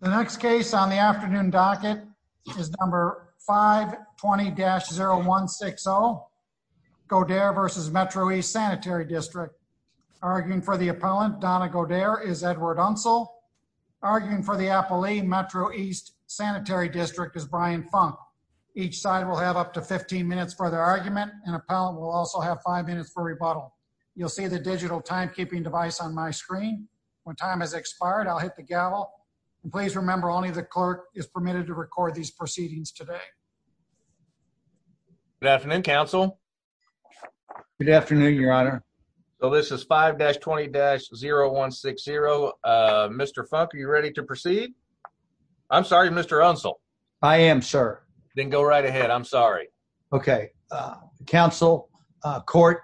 The next case on the afternoon docket is number 520-0160, Godair v. Metro East Sanitary District. Arguing for the appellant, Donna Godair, is Edward Unsel. Arguing for the appellee, Metro East Sanitary District, is Brian Funk. Each side will have up to 15 minutes for their argument. An appellant will also have 5 minutes for rebuttal. You'll see the digital timekeeping device on my screen. When time has expired, I'll hit the gavel. And please remember, only the clerk is permitted to record these proceedings today. Good afternoon, counsel. Good afternoon, your honor. So this is 5-20-0160. Mr. Funk, are you ready to proceed? I'm sorry, Mr. Unsel. I am, sir. Then go right ahead. I'm sorry. Okay. Counsel, court,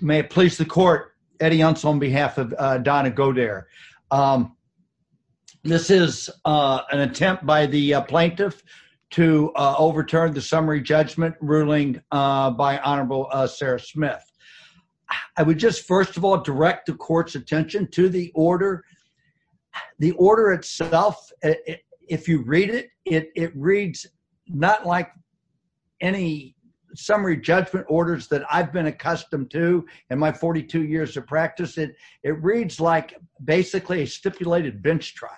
may it please the court, Eddie Unsel on behalf of Donna Godair. This is an attempt by the plaintiff to overturn the summary judgment ruling by Honorable Sarah Smith. I would just, first of all, direct the court's attention to the order. The order itself, if you read it, it reads not like any summary judgment orders that I've been accustomed to in my 42 years of practice. It reads like basically a stipulated bench trial.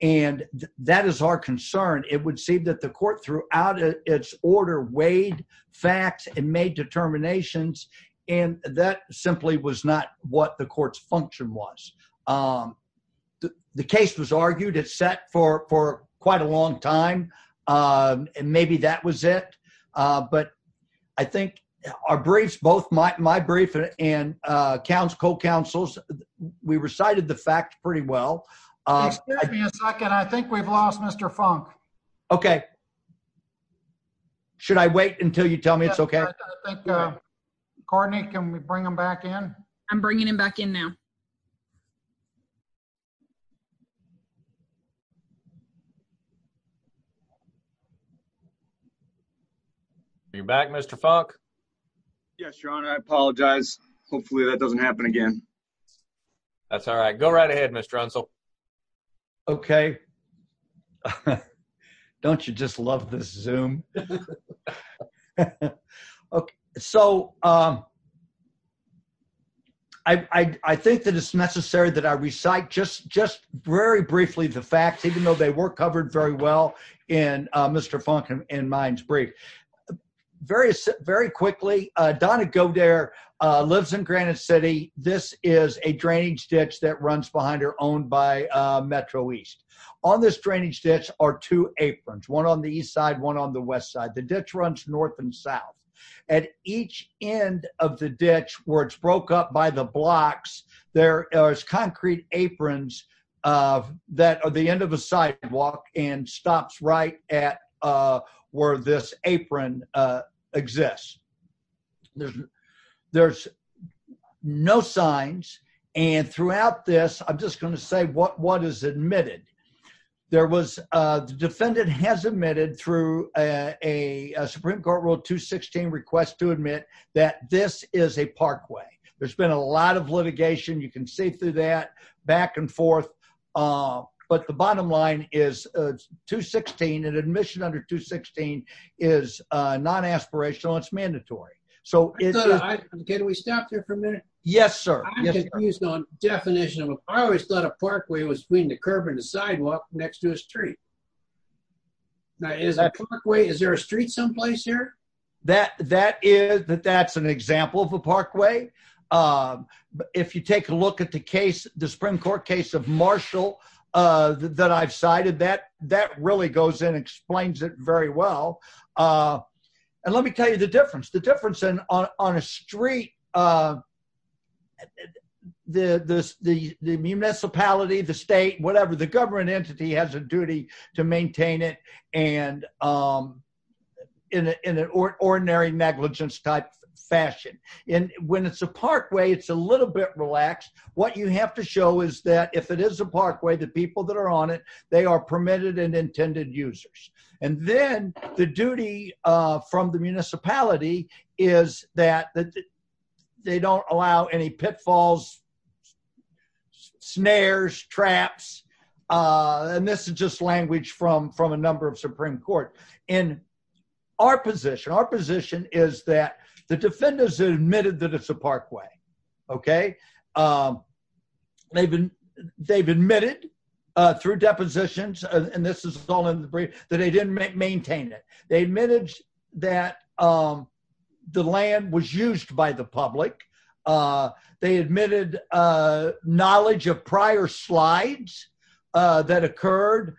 And that is our concern. It would seem that the court throughout its order weighed facts and made determinations. And that simply was not what the court's function was. The case was argued. It sat for quite a long time. And maybe that was it. But I think our briefs, both my brief and co-counsel's, we recited the facts pretty well. Excuse me a second. I think we've lost Mr. Funk. Okay. Should I wait until you tell me it's okay? I think, Courtney, can we bring him back in? I'm bringing him back in now. Are you back, Mr. Funk? Yes, Your Honor. I apologize. Hopefully that doesn't happen again. That's all right. Go right ahead, Mr. Unsel. Okay. Don't you just love this Zoom? Okay. So I think that it's necessary that I recite just very briefly the facts, even though they weren't covered very well in Mr. Funk and mine's brief. Very quickly, Donna Goddard lives in Granite City. This is a drainage ditch that runs behind her, owned by Metro East. On this drainage ditch are two aprons, one on the east side, one on the west side. The ditch runs north and south. At each end of the ditch where it's broke up by the blocks, there's concrete aprons that are the end of a sidewalk and stops right at where this apron exists. There's no signs. And throughout this, I'm just going to say what is admitted. The defendant has admitted through a Supreme Court Rule 216 request to admit that this is a parkway. There's been a lot of litigation. You can see through that back and forth. But the bottom line is 216, an admission under 216 is non-aspirational. It's mandatory. Can we stop there for a minute? Yes, sir. I'm confused on definition. I always thought a parkway was between the curb and the sidewalk next to a street. Is there a street someplace here? That's an example of a parkway. If you take a look at the case, the Supreme Court case of Marshall that I've cited, that really goes in and explains it very well. And let me tell you the difference. The difference on a street, the municipality, the state, whatever, the government entity has a duty to maintain it in an ordinary negligence type fashion. And when it's a parkway, it's a little bit relaxed. What you have to show is that if it is a parkway, the people that are on it, they are permitted and intended users. And then the duty from the municipality is that they don't allow any pitfalls, snares, traps. And this is just language from a number of Supreme Court. And our position, our position is that the defenders admitted that it's a parkway. Okay. They've admitted through depositions, and this is all in the brief, that they didn't maintain it. They admitted that the land was used by the public. They admitted knowledge of prior slides that occurred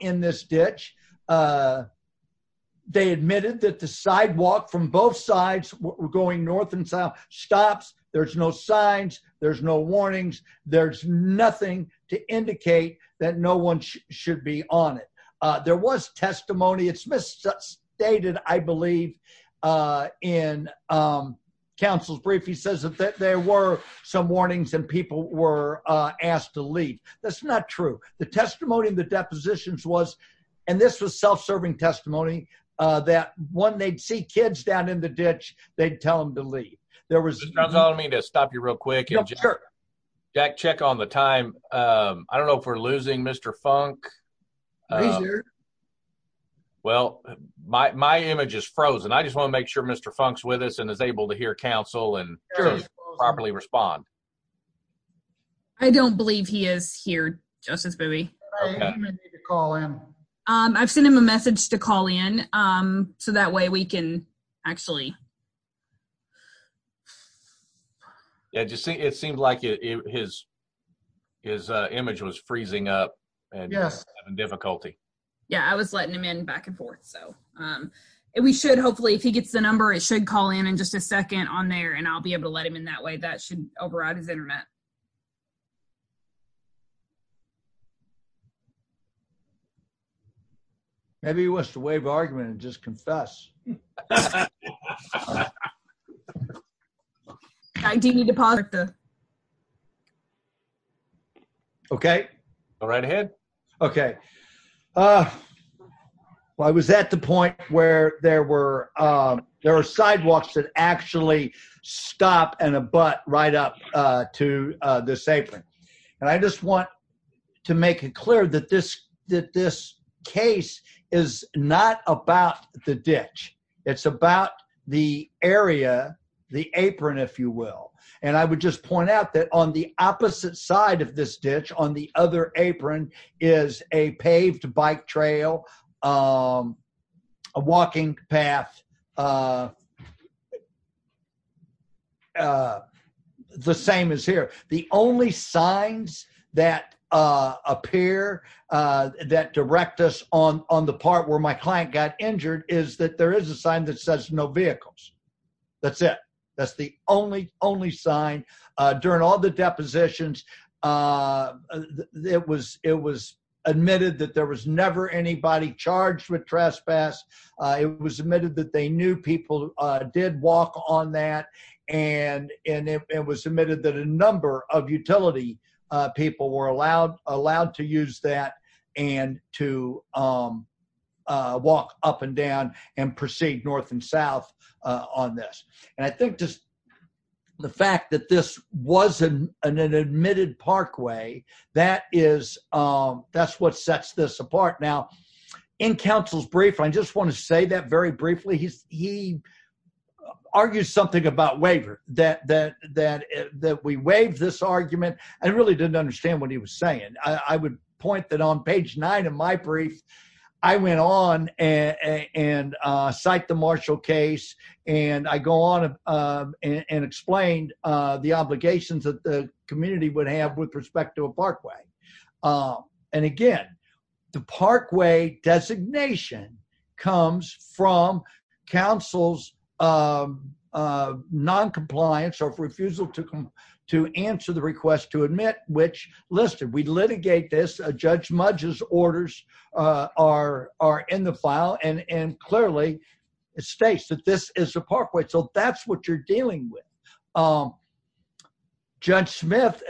in this ditch. They admitted that the sidewalk from both sides, going north and south, stops. There's no signs. There's no warnings. There's nothing to indicate that no one should be on it. There was testimony. It's misstated, I believe, in counsel's brief. He says that there were some warnings and people were asked to leave. That's not true. The testimony in the depositions was, and this was self-serving testimony, that when they'd see kids down in the ditch, they'd tell them to leave. There was — Mr. Jones, I want to stop you real quick. Yeah, sure. Jack, check on the time. I don't know if we're losing Mr. Funk. He's there. Well, my image is frozen. I just want to make sure Mr. Funk's with us and is able to hear counsel and properly respond. I don't believe he is here, Justice Booey. Okay. You may need to call in. I've sent him a message to call in, so that way we can actually — Yeah, it seems like his image was freezing up. Yes. And he's having difficulty. Yeah, I was letting him in back and forth, so. We should, hopefully, if he gets the number, it should call in in just a second on there, and I'll be able to let him in that way. That should override his internet. Maybe he wants to waive argument and just confess. I do need to pause. Okay. Go right ahead. Okay. Well, I was at the point where there were sidewalks that actually stop and abut right up to this apron. And I just want to make it clear that this case is not about the ditch. It's about the area, the apron, if you will. And I would just point out that on the opposite side of this ditch, on the other apron, is a paved bike trail, a walking path, the same as here. The only signs that appear that direct us on the part where my client got injured is that there is a sign that says no vehicles. That's it. That's the only sign. During all the depositions, it was admitted that there was never anybody charged with trespass. It was admitted that they knew people did walk on that. And it was admitted that a number of utility people were allowed to use that and to walk up and down and proceed north and south on this. And I think just the fact that this was an admitted parkway, that's what sets this apart. Now, in counsel's brief, I just want to say that very briefly, he argues something about waiver, that we waive this argument. I really didn't understand what he was saying. I would point that on page nine of my brief, I went on and cite the Marshall case, and I go on and explained the obligations that the community would have with respect to a parkway. And again, the parkway designation comes from counsel's noncompliance or refusal to answer the request to admit which listed. We litigate this. Judge Mudge's orders are in the file, and clearly it states that this is a parkway. So that's what you're dealing with. Judge Smith,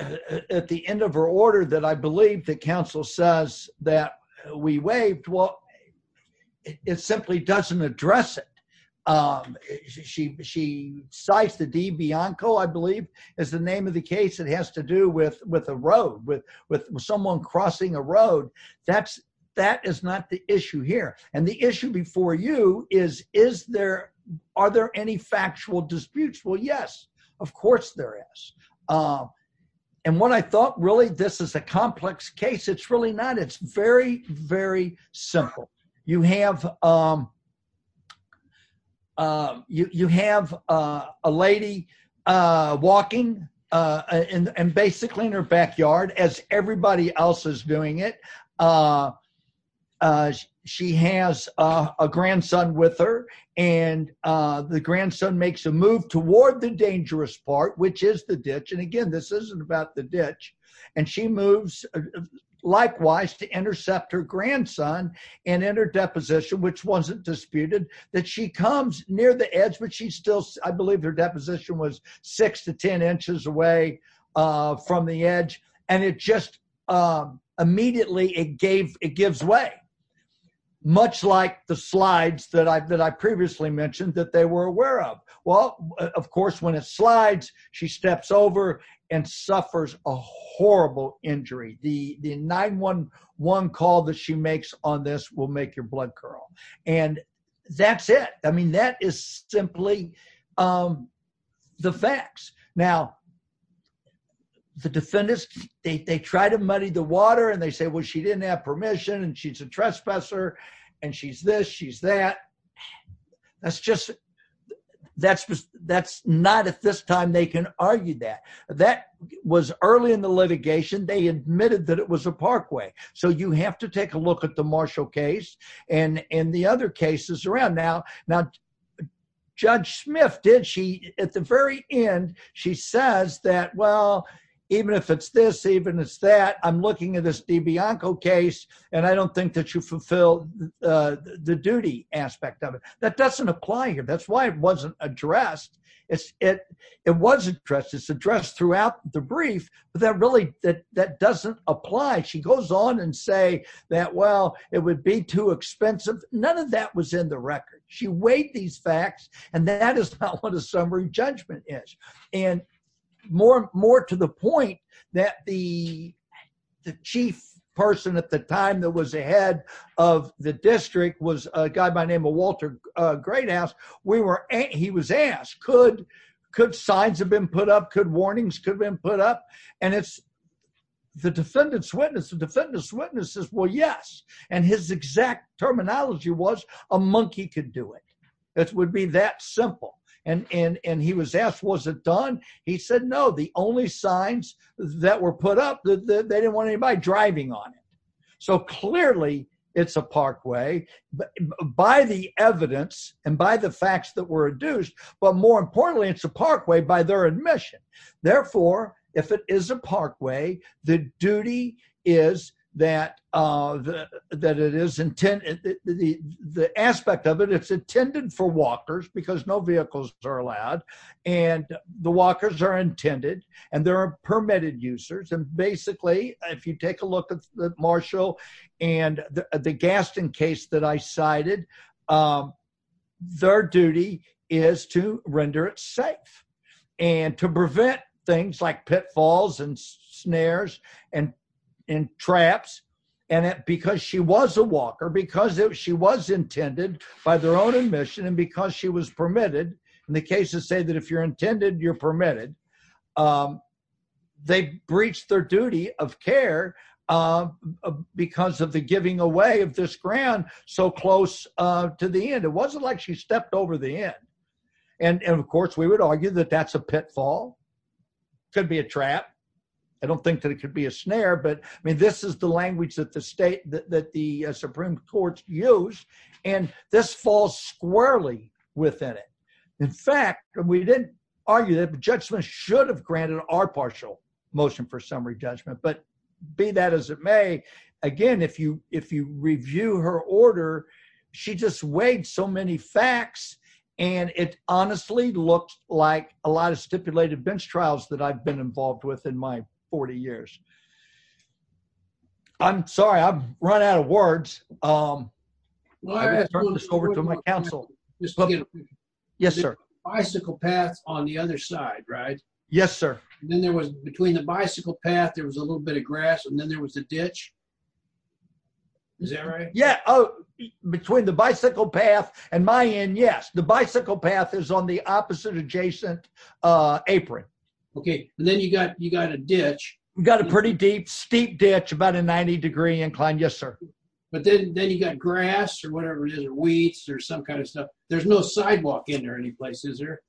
at the end of her order that I believe that counsel says that we waived, well, it simply doesn't address it. She cites the DeBianco, I believe, is the name of the case. It has to do with a road, with someone crossing a road. That is not the issue here. And the issue before you is, are there any factual disputes? Well, yes, of course there is. And what I thought, really, this is a complex case. It's really not. It's very, very simple. You have a lady walking, and basically in her backyard, as everybody else is doing it, she has a grandson with her. And the grandson makes a move toward the dangerous part, which is the ditch. And again, this isn't about the ditch. And she moves, likewise, to intercept her grandson, and in her deposition, which wasn't disputed, that she comes near the edge. But she still, I believe her deposition was six to ten inches away from the edge. And it just immediately, it gives way. Much like the slides that I previously mentioned that they were aware of. Well, of course, when it slides, she steps over and suffers a horrible injury. The 911 call that she makes on this will make your blood curl. And that's it. I mean, that is simply the facts. Now, the defendants, they try to muddy the water, and they say, well, she didn't have permission, and she's a trespasser, and she's this, she's that. That's just, that's not at this time they can argue that. That was early in the litigation. They admitted that it was a parkway. So you have to take a look at the Marshall case and the other cases around. Now, Judge Smith, did she, at the very end, she says that, well, even if it's this, even if it's that, I'm looking at this DiBianco case, and I don't think that you fulfilled the duty aspect of it. That doesn't apply here. That's why it wasn't addressed. It was addressed. It's addressed throughout the brief, but that really, that doesn't apply. She goes on and say that, well, it would be too expensive. None of that was in the record. She weighed these facts, and that is not what a summary judgment is. And more to the point that the chief person at the time that was the head of the district was a guy by the name of Walter Greathouse. We were, he was asked, could signs have been put up? Could warnings have been put up? And the defendant's witness, the defendant's witness says, well, yes. And his exact terminology was a monkey could do it. It would be that simple. And he was asked, was it done? He said, no, the only signs that were put up, they didn't want anybody driving on it. So clearly it's a parkway by the evidence and by the facts that were adduced. But more importantly, it's a parkway by their admission. Therefore, if it is a parkway, the duty is that it is intended, the aspect of it, it's intended for walkers because no vehicles are allowed. And the walkers are intended and there are permitted users. And basically, if you take a look at the Marshall and the Gaston case that I cited, their duty is to render it safe and to prevent things like pitfalls and snares and traps. And because she was a walker, because she was intended by their own admission and because she was permitted. And the cases say that if you're intended, you're permitted. They breached their duty of care because of the giving away of this ground so close to the end. It wasn't like she stepped over the end. And, of course, we would argue that that's a pitfall. Could be a trap. I don't think that it could be a snare. But, I mean, this is the language that the Supreme Court used. And this falls squarely within it. In fact, we didn't argue that the judgment should have granted our partial motion for summary judgment. But be that as it may, again, if you review her order, she just weighed so many facts. And it honestly looks like a lot of stipulated bench trials that I've been involved with in my 40 years. I'm sorry, I've run out of words. I'm going to turn this over to my counsel. Yes, sir. Bicycle paths on the other side, right? Yes, sir. Then there was between the bicycle path, there was a little bit of grass and then there was a ditch. Is that right? Between the bicycle path and my end, yes. The bicycle path is on the opposite adjacent apron. Okay. And then you've got a ditch. We've got a pretty deep, steep ditch, about a 90 degree incline. Yes, sir. But then you've got grass or whatever it is, or weeds or some kind of stuff. There's no sidewalk in there any place, is there?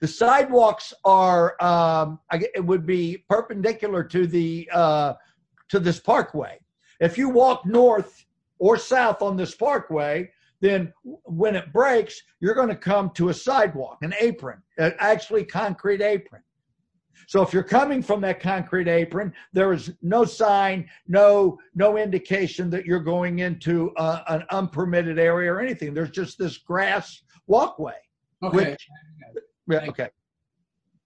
The sidewalks would be perpendicular to this parkway. If you walk north or south on this parkway, then when it breaks, you're going to come to a sidewalk, an apron, an actually concrete apron. So if you're coming from that concrete apron, there is no sign, no indication that you're going into an unpermitted area or anything. There's just this grass walkway. Okay.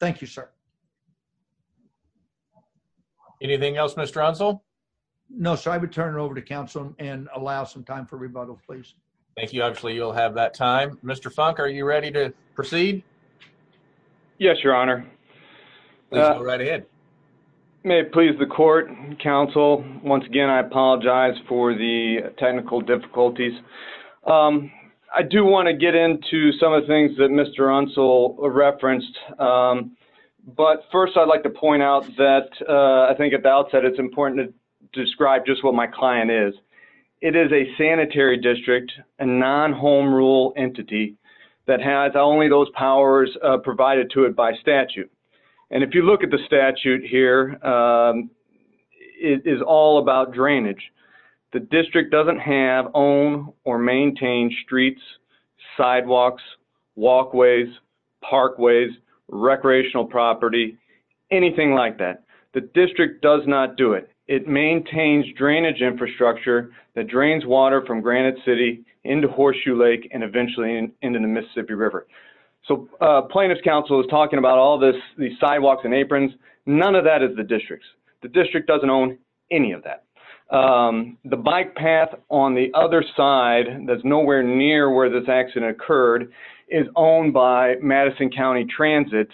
Thank you, sir. Anything else, Mr. Unsell? No, sir. I would turn it over to council and allow some time for rebuttal, please. Thank you. Obviously, you'll have that time. Mr. Funk, are you ready to proceed? Yes, your honor. Please go right ahead. May it please the court, council, once again, I apologize for the technical difficulties. I do want to get into some of the things that Mr. Unsell referenced, but first I'd like to point out that I think at the outset it's important to describe just what my client is. It is a sanitary district, a non-home rule entity that has only those powers provided to it by statute. And if you look at the statute here, it is all about drainage. The district doesn't have, own, or maintain streets, sidewalks, walkways, parkways, recreational property, anything like that. The district does not do it. It maintains drainage infrastructure that drains water from Granite City into Horseshoe Lake and eventually into the Mississippi River. So plaintiff's counsel is talking about all these sidewalks and aprons. None of that is the district's. The district doesn't own any of that. The bike path on the other side that's nowhere near where this accident occurred is owned by Madison County Transit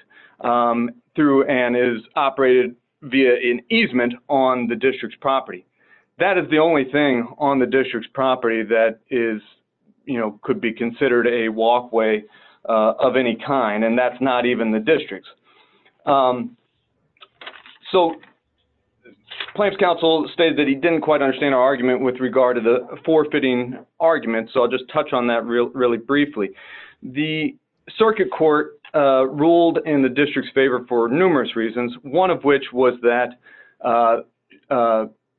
through and is operated via an easement on the district's property. That is the only thing on the district's property that is, you know, could be considered a walkway of any kind, and that's not even the district's. So plaintiff's counsel stated that he didn't quite understand our argument with regard to the forfeiting argument, so I'll just touch on that really briefly. The circuit court ruled in the district's favor for numerous reasons, one of which was that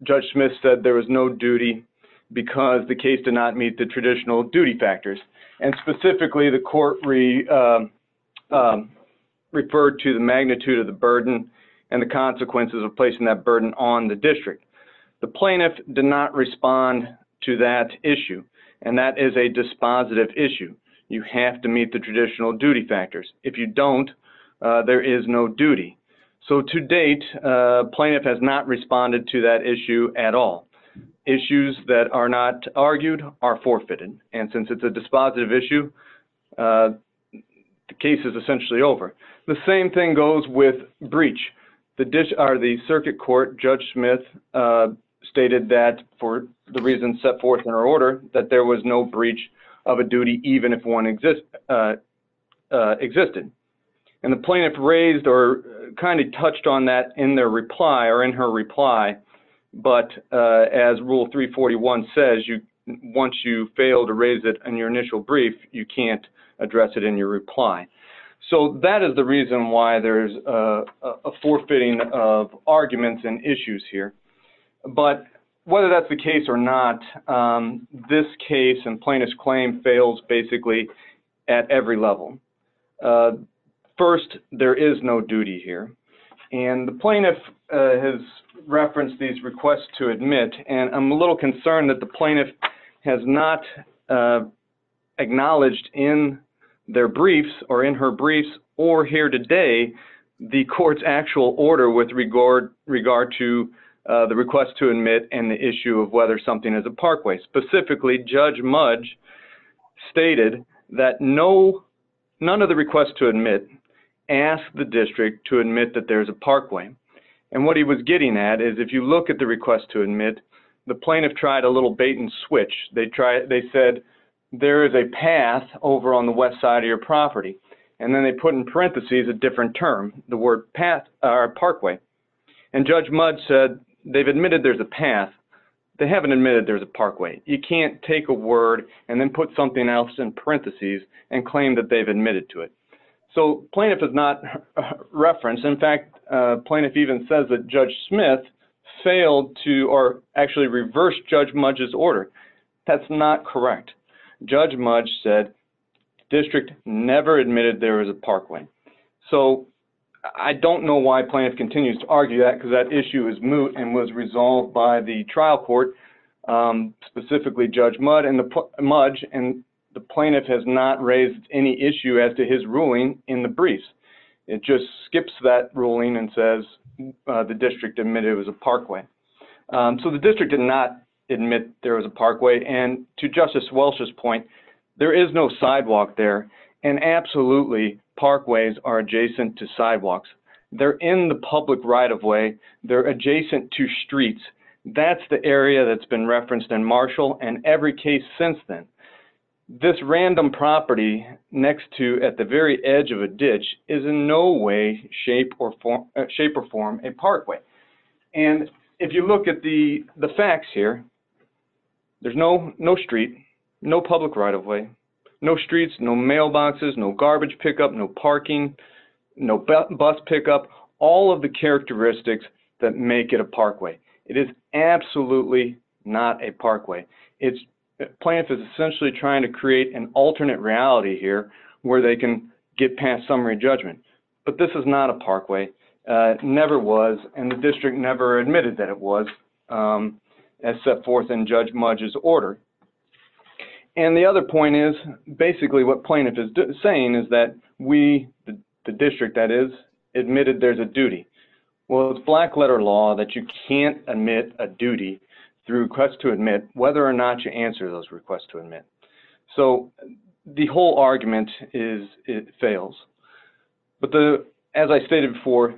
Judge Smith said there was no duty because the case did not meet the traditional duty factors. And specifically, the court referred to the magnitude of the burden and the consequences of placing that burden on the district. The plaintiff did not respond to that issue, and that is a dispositive issue. You have to meet the traditional duty factors. If you don't, there is no duty. So to date, plaintiff has not responded to that issue at all. Issues that are not argued are forfeited, and since it's a dispositive issue, the case is essentially over. The same thing goes with breach. The circuit court, Judge Smith, stated that for the reasons set forth in her order, that there was no breach of a duty even if one existed. And the plaintiff raised or kind of touched on that in their reply or in her reply, but as Rule 341 says, once you fail to raise it in your initial brief, you can't address it in your reply. So that is the reason why there is a forfeiting of arguments and issues here. But whether that's the case or not, this case and plaintiff's claim fails basically at every level. First, there is no duty here. And the plaintiff has referenced these requests to admit, and I'm a little concerned that the plaintiff has not acknowledged in their briefs or in her briefs or here today the court's actual order with regard to the request to admit and the issue of whether something is a parkway. Specifically, Judge Mudge stated that none of the requests to admit asked the district to admit that there is a parkway. And what he was getting at is if you look at the request to admit, the plaintiff tried a little bait and switch. They said there is a path over on the west side of your property, and then they put in parentheses a different term, the word parkway. And Judge Mudge said they have admitted there is a path. They haven't admitted there is a parkway. You can't take a word and then put something else in parentheses and claim that they have admitted to it. So plaintiff has not referenced. In fact, plaintiff even says that Judge Smith failed to or actually reversed Judge Mudge's order. That's not correct. Judge Mudge said district never admitted there is a parkway. So I don't know why plaintiff continues to argue that because that issue is moot and was resolved by the trial court, specifically Judge Mudge. And the plaintiff has not raised any issue as to his ruling in the briefs. It just skips that ruling and says the district admitted it was a parkway. So the district did not admit there was a parkway. And to Justice Welch's point, there is no sidewalk there, and absolutely parkways are adjacent to sidewalks. They're in the public right-of-way. They're adjacent to streets. That's the area that's been referenced in Marshall and every case since then. This random property next to at the very edge of a ditch is in no way shape or form a parkway. And if you look at the facts here, there's no street, no public right-of-way, no streets, no mailboxes, no garbage pickup, no parking, no bus pickup, all of the characteristics that make it a parkway. It is absolutely not a parkway. Plaintiff is essentially trying to create an alternate reality here where they can get past summary judgment. But this is not a parkway. It never was, and the district never admitted that it was as set forth in Judge Mudge's order. And the other point is basically what plaintiff is saying is that we, the district, that is, admitted there's a duty. Well, it's black-letter law that you can't admit a duty through request to admit whether or not you answer those requests to admit. But as I stated before,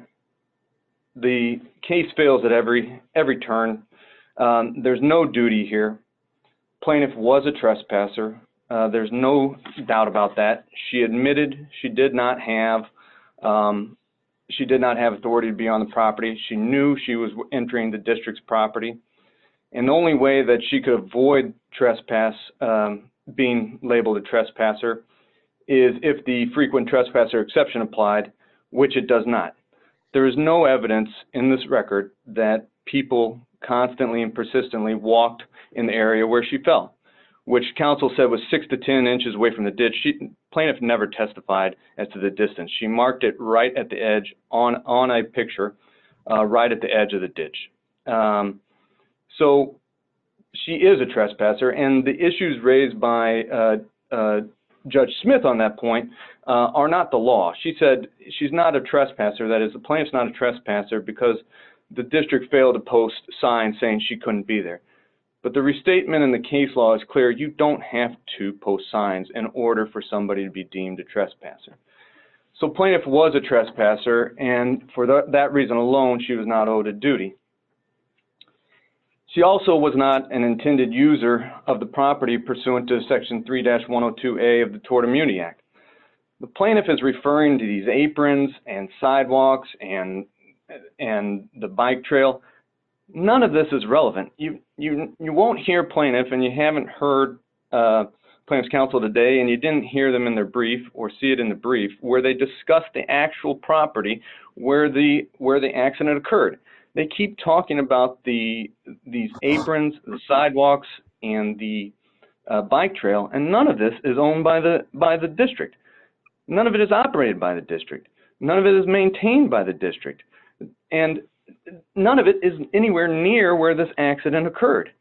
the case fails at every turn. There's no duty here. Plaintiff was a trespasser. There's no doubt about that. She admitted she did not have authority to be on the property. She knew she was entering the district's property. And the only way that she could avoid trespass being labeled a trespasser is if the frequent trespasser exception applied, which it does not. There is no evidence in this record that people constantly and persistently walked in the area where she fell, which counsel said was 6 to 10 inches away from the ditch. Plaintiff never testified as to the distance. She marked it right at the edge on a picture, right at the edge of the ditch. So she is a trespasser. And the issues raised by Judge Smith on that point are not the law. She said she's not a trespasser, that is, the plaintiff's not a trespasser because the district failed to post signs saying she couldn't be there. But the restatement in the case law is clear. You don't have to post signs in order for somebody to be deemed a trespasser. So plaintiff was a trespasser, and for that reason alone, she was not owed a duty. She also was not an intended user of the property pursuant to Section 3-102A of the Tort Immunity Act. The plaintiff is referring to these aprons and sidewalks and the bike trail. None of this is relevant. You won't hear plaintiff, and you haven't heard plaintiff's counsel today, and you didn't hear them in their brief or see it in the brief, where they discuss the actual property where the accident occurred. They keep talking about these aprons, the sidewalks, and the bike trail, and none of this is owned by the district. None of it is operated by the district. None of it is maintained by the district. And none of it is anywhere near where this accident occurred.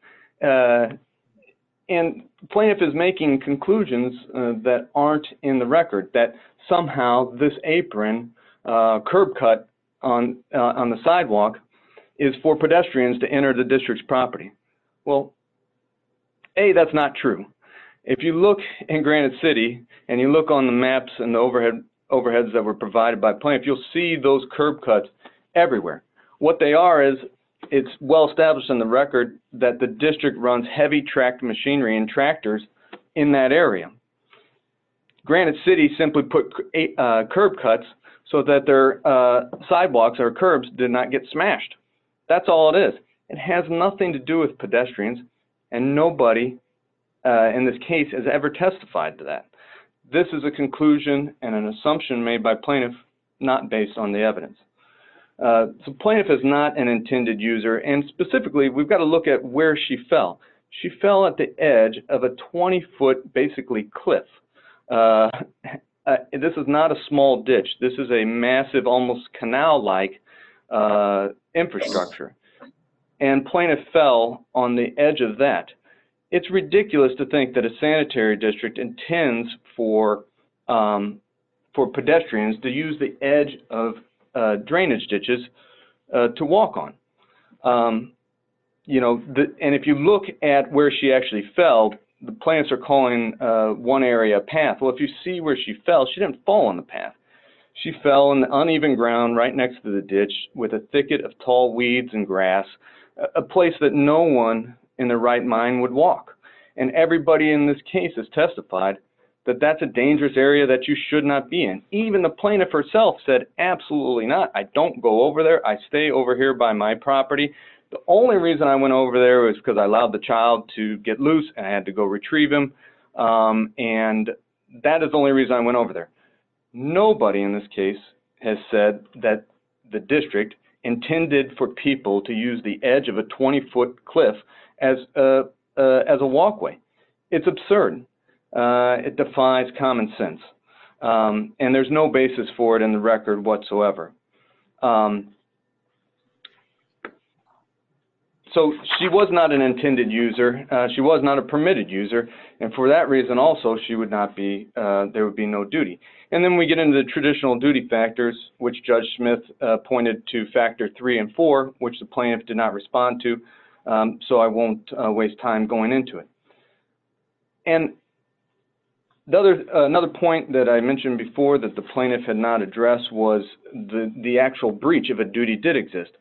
And plaintiff is making conclusions that aren't in the record, that somehow this apron curb cut on the sidewalk is for pedestrians to enter the district's property. Well, A, that's not true. If you look in Granite City and you look on the maps and the overheads that were provided by plaintiff, you'll see those curb cuts everywhere. What they are is it's well established in the record that the district runs heavy tracked machinery and tractors in that area. Granite City simply put curb cuts so that their sidewalks or curbs did not get smashed. That's all it is. It has nothing to do with pedestrians, and nobody in this case has ever testified to that. This is a conclusion and an assumption made by plaintiff not based on the evidence. So plaintiff is not an intended user. And specifically, we've got to look at where she fell. She fell at the edge of a 20-foot basically cliff. This is not a small ditch. This is a massive almost canal-like infrastructure. And plaintiff fell on the edge of that. It's ridiculous to think that a sanitary district intends for pedestrians to use the edge of drainage ditches to walk on. And if you look at where she actually fell, the plaintiffs are calling one area a path. Well, if you see where she fell, she didn't fall on the path. She fell on uneven ground right next to the ditch with a thicket of tall weeds and grass, a place that no one in their right mind would walk. And everybody in this case has testified that that's a dangerous area that you should not be in. Even the plaintiff herself said, absolutely not. I don't go over there. I stay over here by my property. The only reason I went over there was because I allowed the child to get loose and I had to go retrieve him. And that is the only reason I went over there. Nobody in this case has said that the district intended for people to use the edge of a 20-foot cliff as a walkway. It's absurd. It defies common sense. And there's no basis for it in the record whatsoever. So she was not an intended user. She was not a permitted user. And for that reason also, she would not be, there would be no duty. And then we get into the traditional duty factors, which Judge Smith pointed to factor three and four, which the plaintiff did not respond to, so I won't waste time going into it. And another point that I mentioned before that the plaintiff had not addressed was the actual breach of a duty did exist.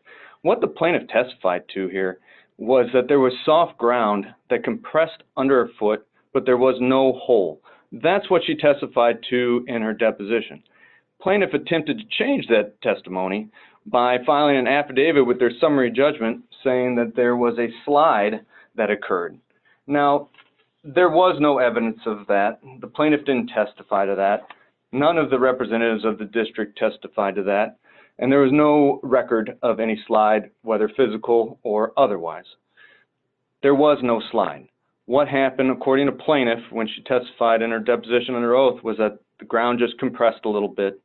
What the plaintiff testified to here was that there was soft ground that compressed under her foot, but there was no hole. That's what she testified to in her deposition. The plaintiff attempted to change that testimony by filing an affidavit with their summary judgment saying that there was a slide that occurred. Now, there was no evidence of that. The plaintiff didn't testify to that. None of the representatives of the district testified to that. And there was no record of any slide, whether physical or otherwise. There was no slide. What happened, according to plaintiff, when she testified in her deposition and her oath was that the ground just compressed a little bit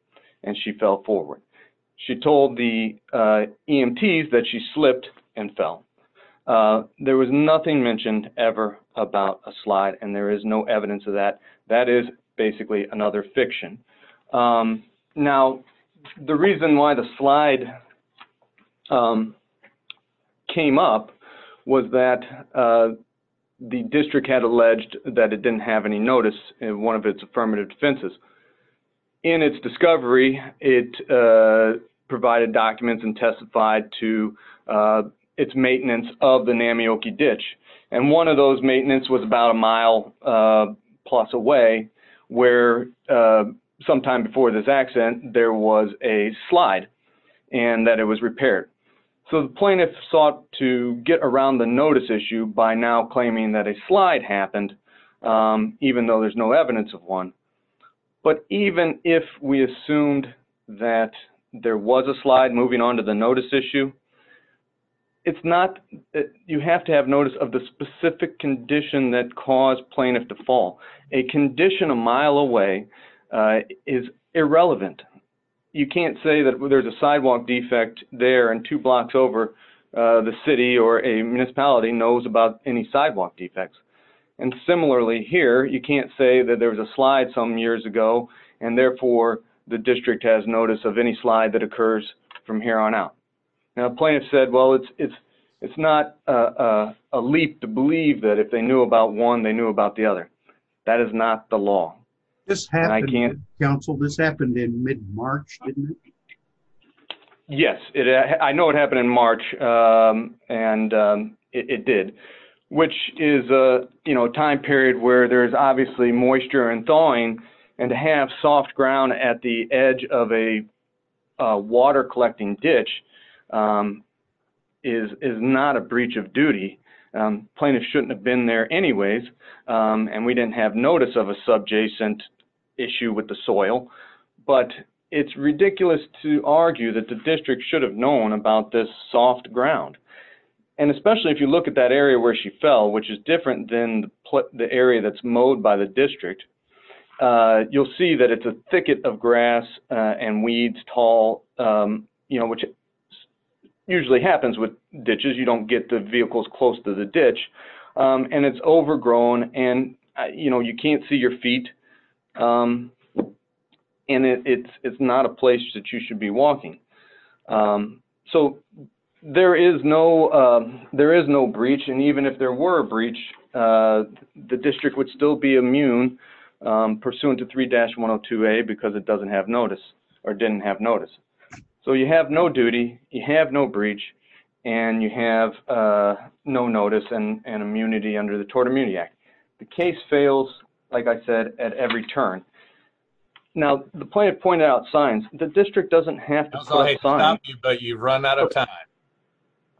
and she fell forward. She told the EMTs that she slipped and fell. There was nothing mentioned ever about a slide, and there is no evidence of that. That is basically another fiction. Now, the reason why the slide came up was that the district had alleged that it didn't have any notice in one of its affirmative defenses. In its discovery, it provided documents and testified to its maintenance of the Namioki ditch. And one of those maintenance was about a mile-plus away where sometime before this accident there was a slide and that it was repaired. So the plaintiff sought to get around the notice issue by now claiming that a slide happened, even though there's no evidence of one. But even if we assumed that there was a slide moving on to the notice issue, you have to have notice of the specific condition that caused plaintiff to fall. A condition a mile away is irrelevant. You can't say that there's a sidewalk defect there and two blocks over the city or a municipality knows about any sidewalk defects. And similarly here, you can't say that there was a slide some years ago, and therefore the district has notice of any slide that occurs from here on out. Now, a plaintiff said, well, it's not a leap to believe that if they knew about one, they knew about the other. That is not the law. And I can't... This happened in mid-March, didn't it? Yes. I know it happened in March, and it did. Which is a time period where there's obviously moisture and thawing, and to have soft ground at the edge of a water-collecting ditch is not a breach of duty. Plaintiffs shouldn't have been there anyways, and we didn't have notice of a subjacent issue with the soil. But it's ridiculous to argue that the district should have known about this soft ground. And especially if you look at that area where she fell, which is different than the area that's mowed by the district, you'll see that it's a thicket of grass and weeds tall, which usually happens with ditches. You don't get the vehicles close to the ditch. And it's overgrown, and you can't see your feet, and it's not a place that you should be walking. So there is no breach, and even if there were a breach, the district would still be immune pursuant to 3-102A because it doesn't have notice, or didn't have notice. So you have no duty, you have no breach, and you have no notice and immunity under the Tort Immunity Act. The case fails, like I said, at every turn. Now, the point I pointed out, signs. The district doesn't have to close signs. Unsel, I hate to stop you, but you've run out of time.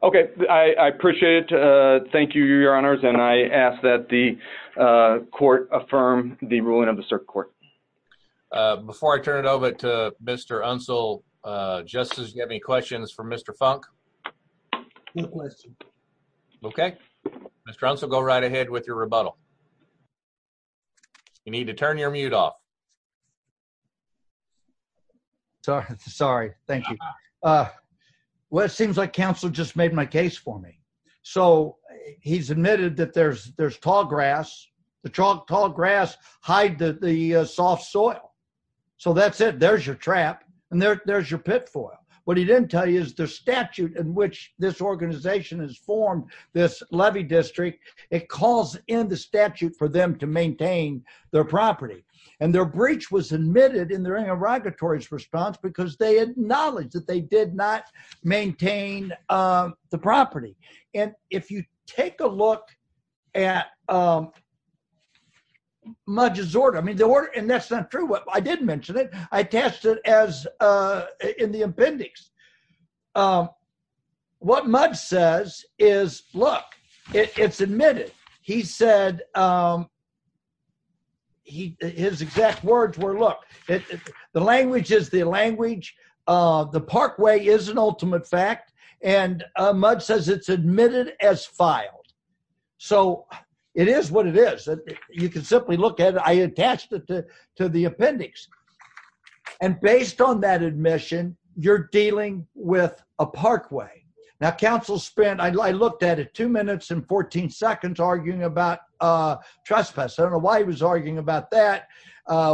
Okay. I appreciate it. Thank you, Your Honors. And I ask that the court affirm the ruling of the Circuit Court. Before I turn it over to Mr. Unsel, Justice, do you have any questions for Mr. Funk? No questions. Okay. Mr. Unsel, go right ahead with your rebuttal. You need to turn your mute off. Sorry. Thank you. Well, it seems like counsel just made my case for me. So he's admitted that there's tall grass. The tall grass hide the soft soil. So that's it. There's your trap, and there's your pit foil. What he didn't tell you is the statute in which this organization has formed this levy district. It calls in the statute for them to maintain their property. And their breach was admitted in the Irrigatory's response because they had knowledge that they did not maintain the property. And if you take a look at Mudge's order, I mean, the order, and that's not true. I didn't mention it. I attached it in the appendix. What Mudge says is, look, it's admitted. He said, his exact words were, look, the language is the language. The parkway is an ultimate fact. And Mudge says it's admitted as filed. So it is what it is. You can simply look at it. I attached it to the appendix. And based on that admission, you're dealing with a parkway. Now, counsel spent, I looked at it, two minutes and 14 seconds arguing about trespass. I don't know why he was arguing about that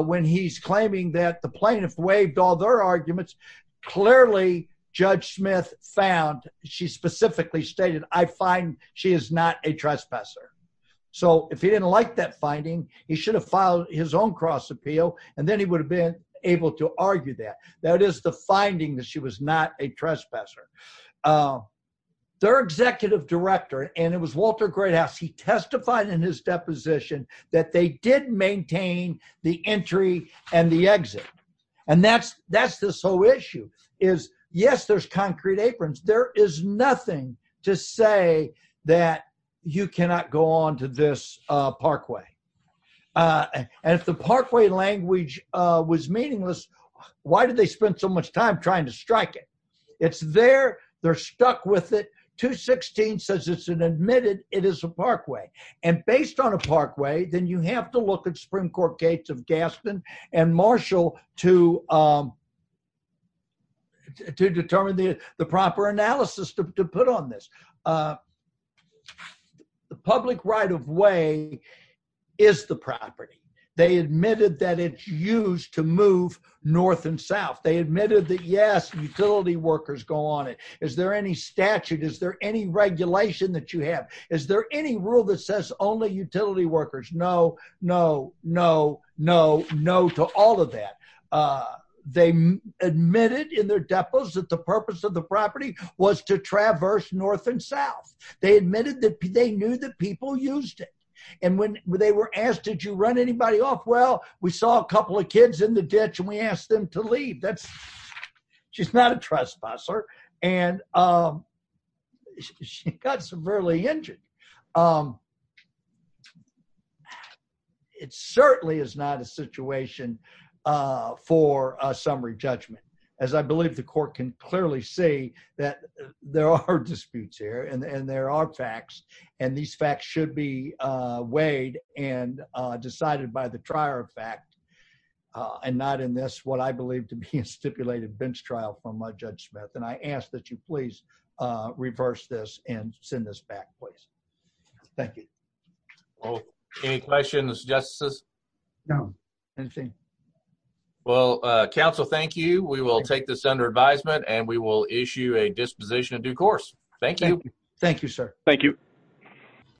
when he's claiming that the plaintiff waived all their arguments. Clearly, Judge Smith found, she specifically stated, I find she is not a trespasser. So if he didn't like that finding, he should have filed his own cross appeal, and then he would have been able to argue that. That is the finding that she was not a trespasser. Their executive director, and it was Walter Greathouse, he testified in his deposition that they did maintain the entry and the exit. And that's this whole issue is, yes, there's concrete aprons. There is nothing to say that you cannot go on to this parkway. And if the parkway language was meaningless, why did they spend so much time trying to strike it? It's there. They're stuck with it. 216 says it's an admitted, it is a parkway. And based on a parkway, then you have to look at Supreme Court Gates of Gaspin and Marshall to determine the proper analysis to put on this. The public right of way is the property. They admitted that it's used to move north and south. They admitted that, yes, utility workers go on it. Is there any statute? Is there any regulation that you have? Is there any rule that says only utility workers? No, no, no, no, no to all of that. They admitted in their depots that the purpose of the property was to traverse north and south. They admitted that they knew that people used it. And when they were asked, did you run anybody off? Well, we saw a couple of kids in the ditch and we asked them to leave. She's not a trespasser. And she got severely injured. It certainly is not a situation for a summary judgment, as I believe the court can clearly see that there are disputes here and there are facts. And these facts should be weighed and decided by the trier of fact and not in this what I believe to be a stipulated bench trial from Judge Smith. And I ask that you please reverse this and send this back, please. Thank you. Any questions, justices? No. Well, counsel, thank you. We will take this under advisement and we will issue a disposition of due course. Thank you. Thank you, sir. Thank you.